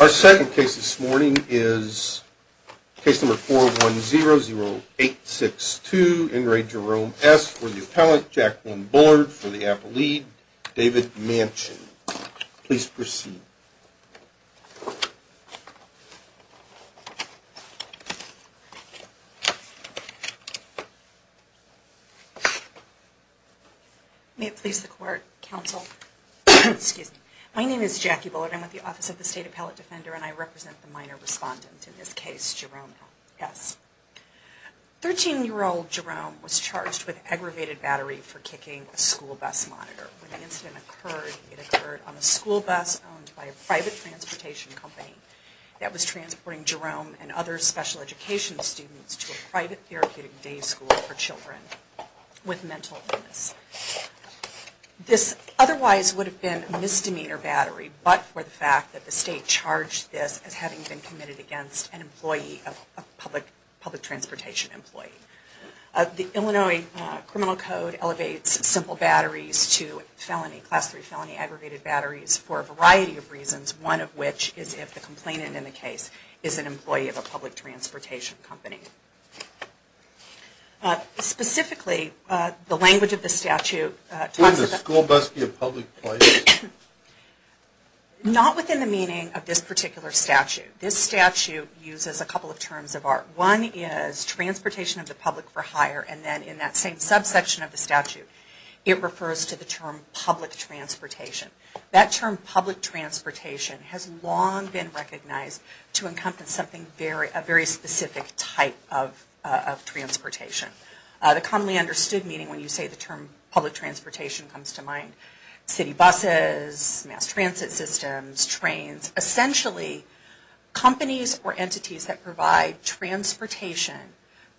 Our second case this morning is case number four one zero zero eight six two in re Jerome S for the appellate Jacqueline Bullard for the appellate David Manchin. Please proceed. May it please the court, counsel, excuse me, my name is Jackie Bullard. I'm with the Office of the State Appellate Defender and I represent the minor respondent in this case, Jerome S. Thirteen year old Jerome was charged with aggravated battery for kicking a school bus monitor. When the incident occurred, it occurred on a school bus owned by a private transportation company that was transporting Jerome and other special education students to a private therapeutic day school for children with mental illness. This otherwise would have been a misdemeanor battery, but for the fact that the state charged this as having been committed against an employee, a public transportation employee. The Illinois Criminal Code elevates simple batteries to felony, class three felony, aggregated batteries for a variety of reasons, one of which is if the complainant in the case is an employee of a public transportation company. Specifically, the language of the statute talks about, not within the meaning of this particular statute. This statute uses a couple of terms of art. One is transportation of the public for hire and then in that same subsection of the statute, it refers to the term public transportation. That term public transportation has long been recognized to encompass a very specific type of transportation. The commonly understood meaning when you say the term public transportation comes to mind, city buses, mass transit systems, trains. Essentially, companies or entities that provide transportation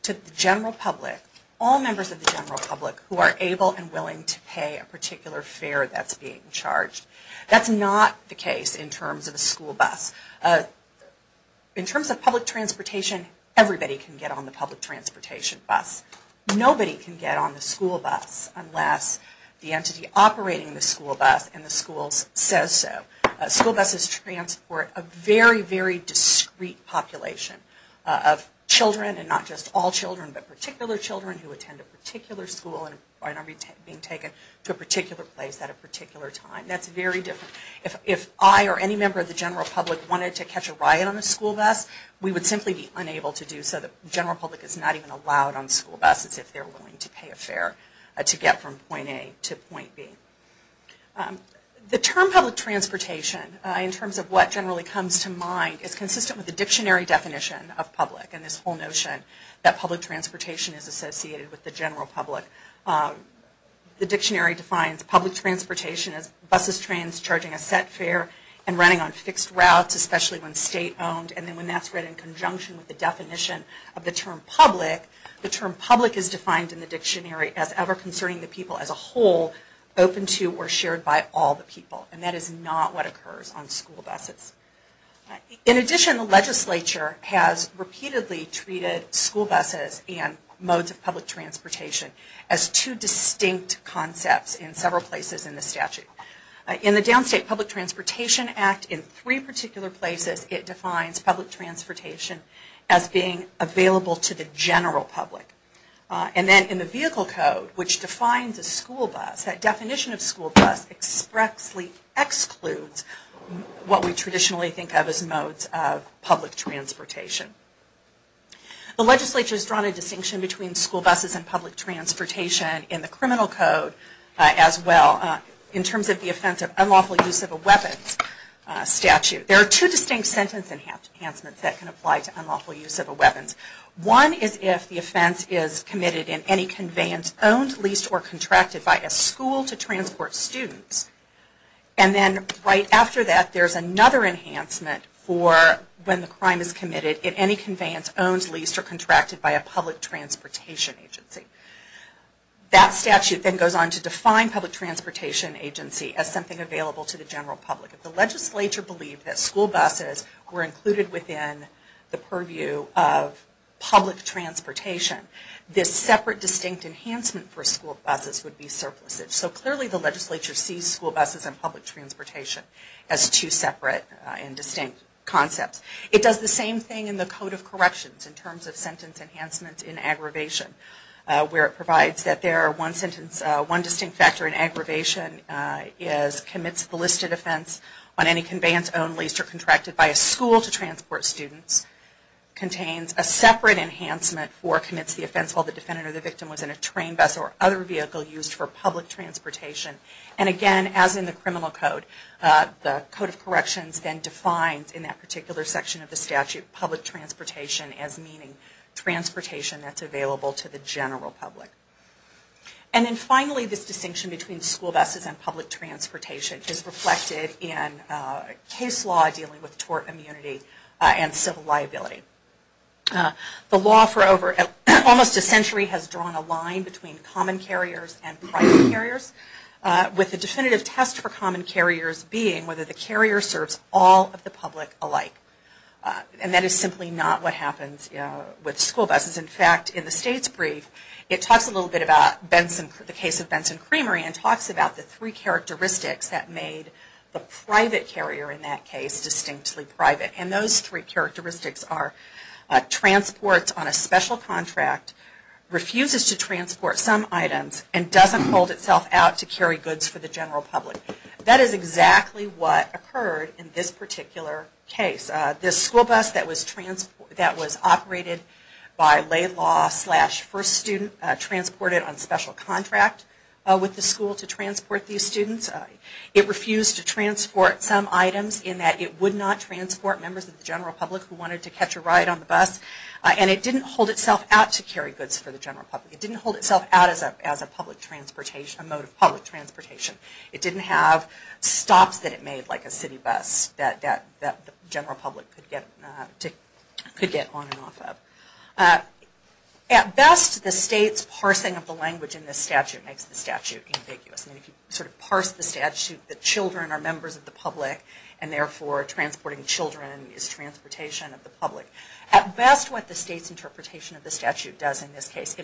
to the general public, all members of the general public who are able and willing to pay a particular fare that's being charged. That's not the case in terms of a school bus. In terms of public transportation, everybody can get on the public transportation bus. Nobody can get on the school bus unless the entity operating the school bus and the school says so. School buses transport a very, very discreet population of children and not just all children, but particular children who attend a particular school and are being taken to a particular place at a particular time. That's very different. If I or any member of the general public wanted to catch a ride on a school bus, we would simply be unable to do so. The general public is not even allowed on school buses if they're willing to pay a fare to get from point A to point B. The term public transportation, in terms of what generally comes to mind, is consistent with the dictionary definition of public and this whole notion that public transportation is associated with the general public. The dictionary defines public transportation as buses, trains, charging a set fare, and running on fixed routes, especially when state-owned, and then when that's written in conjunction with the definition of the term public. The term public is defined in the dictionary as ever concerning the people as a whole, open to or shared by all the people, and that is not what occurs on school buses. In addition, the legislature has repeatedly treated school buses and modes of public transportation as two distinct concepts in several places in the statute. In the Downstate Public Transportation Act, in three particular places, it defines public transportation as being available to the general public. And then in the Vehicle Code, which defines a school bus, that definition of school bus expressly excludes what we traditionally think of as modes of public transportation. The legislature has drawn a distinction between school buses and public transportation in the Criminal Code as well, in terms of the offense of unlawful use of a weapons statute. There are two distinct sentence enhancements that can apply to unlawful use of a weapons. One is if the offense is committed in any conveyance owned, leased, or contracted by a school to transport students. And then right after that, there's another enhancement for when the crime is committed in any conveyance owned, leased, or contracted by a public transportation agency. That statute then goes on to define public transportation agency as something available to the general public. If the legislature believed that school buses were included within the purview of public transportation, this separate distinct enhancement for school buses would be surplused. So clearly the legislature sees school buses and public transportation as two separate and distinct concepts. It does the same thing in the Code of Corrections in terms of sentence enhancements in aggravation. Where it provides that there are one sentence, one distinct factor in aggravation is commits the listed offense on any conveyance owned, leased, or contracted by a school to transport students. Contains a separate enhancement for commits the offense while the defendant or the victim was in a train, bus, or other vehicle used for public transportation. And again, as in the Criminal Code, the Code of Corrections then defines in that particular section of the statute, public transportation as meaning transportation that's available to the general public. And then finally this distinction between school buses and public transportation is reflected in case law dealing with tort immunity and civil liability. The law for over almost a century has drawn a line between common carriers and private carriers. With the definitive test for common carriers being whether the carrier serves all of the public alike. And that is simply not what happens with school buses. In fact, in the state's brief, it talks a little bit about the case of Benson Creamery and talks about the three characteristics that made the private carrier in that case distinctly private. And those three characteristics are transports on a special contract, refuses to transport some items, and doesn't hold itself out to carry goods for the general public. That is exactly what occurred in this particular case. This school bus that was operated by lay law slash first student transported on special contract with the school to transport these students. It refused to transport some items in that it would not transport members of the general public who wanted to catch a ride on the bus. And it didn't hold itself out to carry goods for the general public. It didn't hold itself out as a mode of public transportation. It didn't have stops that it made like a city bus that the general public could get on and off of. At best, the state's parsing of the language in this statute makes the statute ambiguous. And if you sort of parse the statute, the children are members of the public and therefore transporting children is transportation of the public. At best, what the state's interpretation of the statute does in this case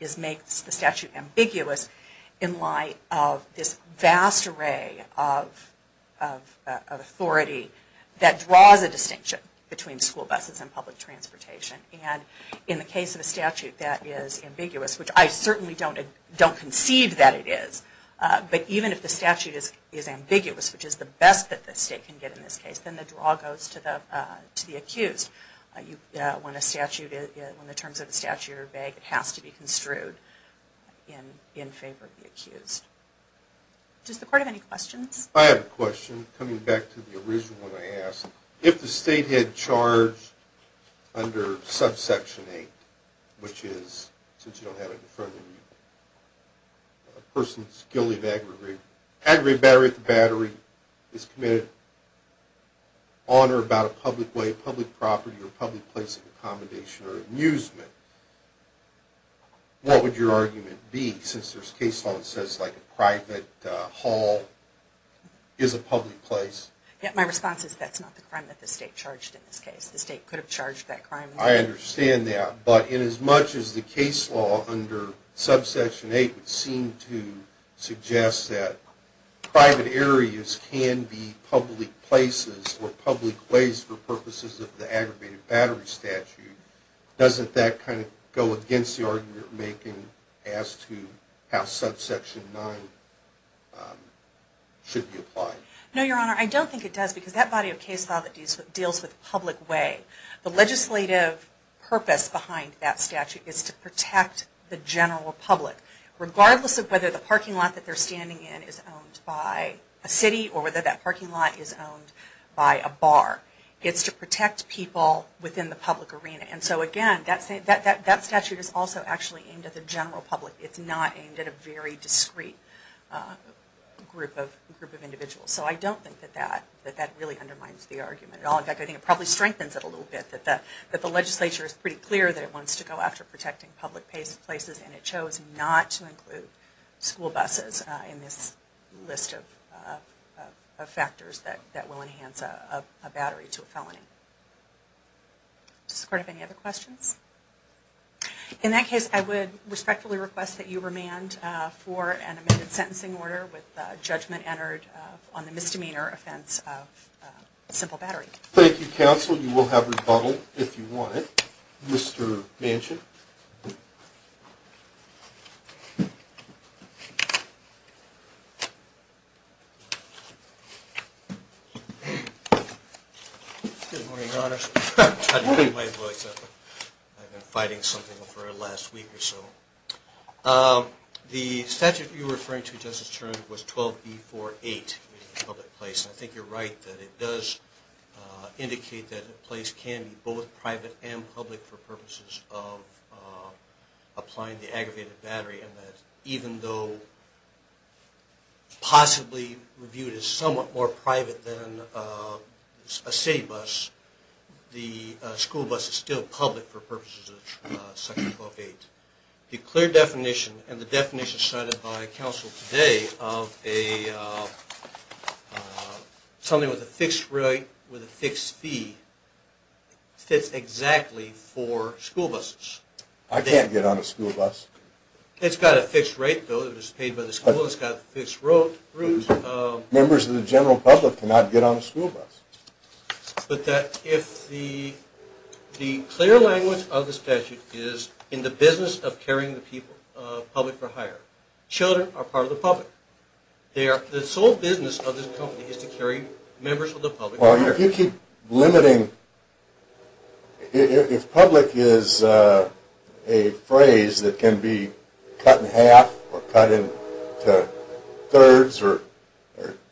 is makes the statute ambiguous in light of this vast array of authority that draws a distinction between school buses and public transportation. And in the case of a statute that is ambiguous, which I certainly don't conceive that it is, but even if the statute is ambiguous, which is the best that the state can get in this case, then the draw goes to the accused. When the terms of the statute are vague, it has to be construed in favor of the accused. Does the court have any questions? I have a question coming back to the original one I asked. If the state had charged under subsection 8, which is, since you don't have it in front of you, a person's guilty of aggravated battery at the battery is committed on or about a public way, public property, or public place of accommodation or amusement, what would your argument be? Since there's case law that says a private hall is a public place. My response is that's not the crime that the state charged in this case. The state could have charged that crime. I understand that. But inasmuch as the case law under subsection 8 would seem to suggest that private areas can be public places or public ways for purposes of the aggravated battery statute, doesn't that kind of go against the argument you're making as to how subsection 9 should be applied? No, Your Honor. I don't think it does because that body of case law that deals with public way, the legislative purpose behind that statute is to protect the general public, regardless of whether the parking lot that they're standing in is owned by a city or whether that parking lot is owned by a bar. It's to protect people within the public arena. And so again, that statute is also actually aimed at the general public. It's not aimed at a very discreet group of individuals. So I don't think that that really undermines the argument at all. In fact, I think it probably strengthens it a little bit, that the legislature is pretty clear that it wants to go after protecting public places and it chose not to include school buses in this list of factors that will enhance a battery to a felony. Does the Court have any other questions? In that case, I would respectfully request that you remand for an amended sentencing order with judgment entered on the misdemeanor offense of a simple battery. Thank you, Counsel. Counsel, you will have rebuttal if you want it. Mr. Manchin. Good morning, Your Honor. I'm trying to keep my voice up. I've been fighting something for the last week or so. The statute you're referring to, Justice Turner, was 12B48, public place. I think you're right that it does indicate that a place can be both private and public for purposes of applying the aggravated battery, and that even though possibly viewed as somewhat more private than a city bus, the school bus is still public for purposes of Section 12A. The clear definition and the definition cited by Counsel today of something with a fixed rate, with a fixed fee, fits exactly for school buses. I can't get on a school bus. It's got a fixed rate, though. It was paid by the school. It's got a fixed route. Members of the general public cannot get on a school bus. But that if the clear language of the statute is in the business of carrying the public for hire, children are part of the public. The sole business of this company is to carry members of the public for hire. Well, if you keep limiting, if public is a phrase that can be cut in half or cut into thirds or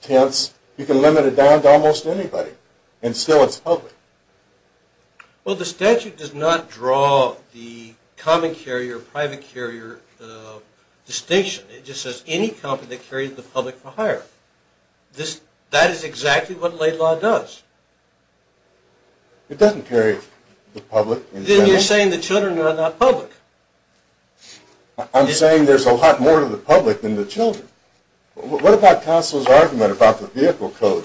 tenths, you can limit it down to almost anybody, and still it's public. Well, the statute does not draw the common carrier, private carrier distinction. It just says any company that carries the public for hire. That is exactly what late law does. It doesn't carry the public in general. Then you're saying the children are not public. I'm saying there's a lot more to the public than the children. What about counsel's argument about the vehicle code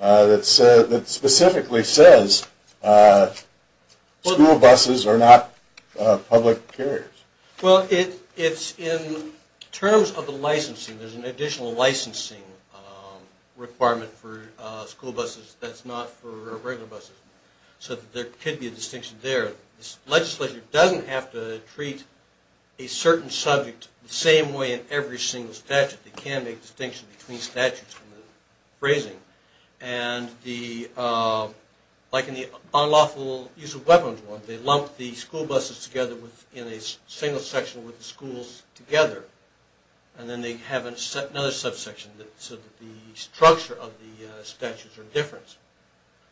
that specifically says school buses are not public carriers? Well, it's in terms of the licensing. There's an additional licensing requirement for school buses that's not for regular buses. So there could be a distinction there. The legislature doesn't have to treat a certain subject the same way in every single statute. They can make a distinction between statutes from the phrasing. And like in the unlawful use of weapons one, they lump the school buses together in a single section with the schools together, and then they have another subsection so that the structure of the statutes are different.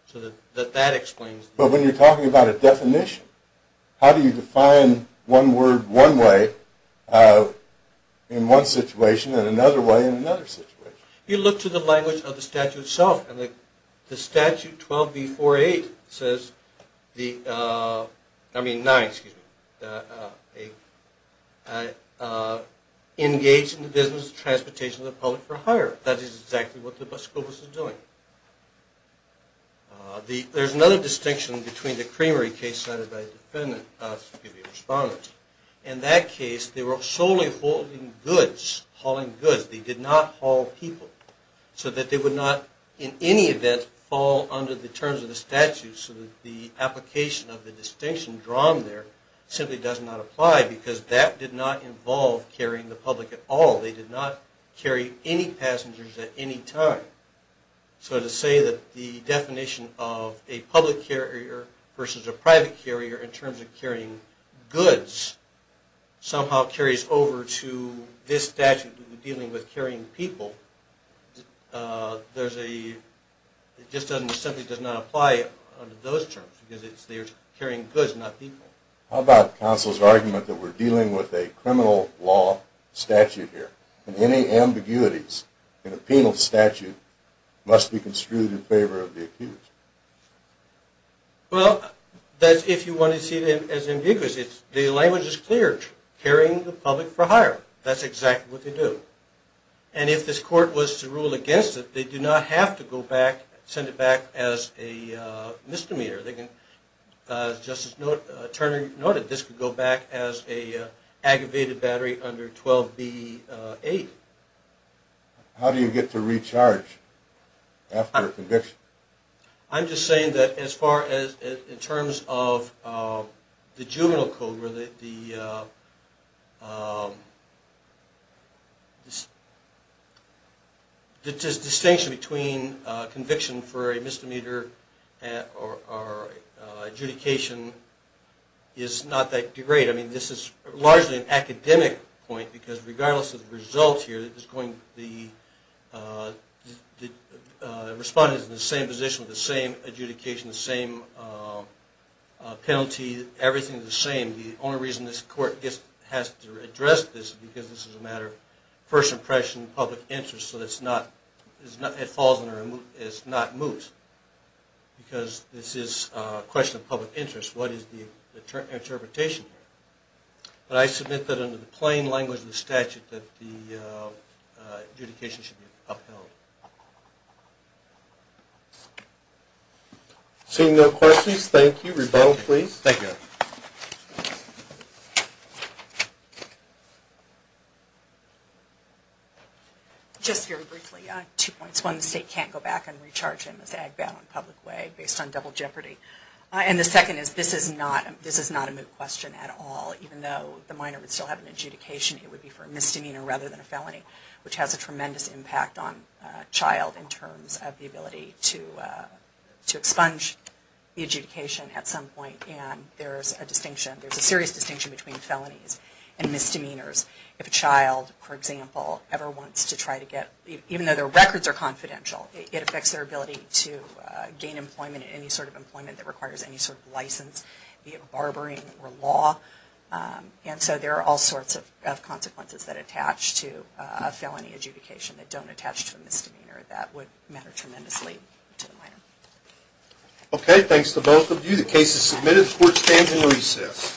So that that explains it. But when you're talking about a definition, how do you define one word one way in one situation and another way in another situation? You look to the language of the statute itself, and the statute 12B48 says the, I mean 9, excuse me, engage in the business of transportation of the public for hire. That is exactly what the school bus is doing. There's another distinction between the Creamery case cited by the defendant, excuse me, the respondent. In that case they were solely hauling goods. They did not haul people. So that they would not in any event fall under the terms of the statute so that the application of the distinction drawn there simply does not apply because that did not involve carrying the public at all. They did not carry any passengers at any time. So to say that the definition of a public carrier versus a private carrier in terms of carrying goods somehow carries over to this statute dealing with carrying people, there's a, it just simply does not apply under those terms because they're carrying goods, not people. How about counsel's argument that we're dealing with a criminal law statute here and any ambiguities in a penal statute must be construed in favor of the accused? Well, that's if you want to see it as ambiguous. The language is clear. Carrying the public for hire. That's exactly what they do. And if this court was to rule against it, they do not have to go back, send it back as a misdemeanor. As Justice Turner noted, this could go back as an aggravated battery under 12B-8. How do you get to recharge after a conviction? I'm just saying that as far as in terms of the juvenile code, the distinction between conviction for a misdemeanor or adjudication is not that great. I mean, this is largely an academic point because regardless of the results here, the respondent is in the same position with the same adjudication, the same penalty, everything is the same. The only reason this court has to address this is because this is a matter of first impression, public interest, so it's not moot because this is a question of public interest. What is the interpretation here? I submit that under the plain language of the statute that the adjudication should be upheld. Seeing no questions, thank you. Rebel, please. Just very briefly, two points. One, the state can't go back and recharge him as ag-bound in a public way based on double jeopardy. And the second is this is not a moot question at all. Even though the minor would still have an adjudication, it would be for a misdemeanor rather than a felony, which has a tremendous impact on a child in terms of the ability to expunge the adjudication at some point. And there's a distinction, there's a serious distinction between felonies and misdemeanors. If a child, for example, ever wants to try to get, even though their records are confidential, it affects their ability to gain employment, any sort of employment that requires any sort of license, be it barbering or law. And so there are all sorts of consequences that attach to a felony adjudication that don't attach to a misdemeanor that would matter tremendously to the minor. Okay, thanks to both of you. The case is submitted. The court stands in recess.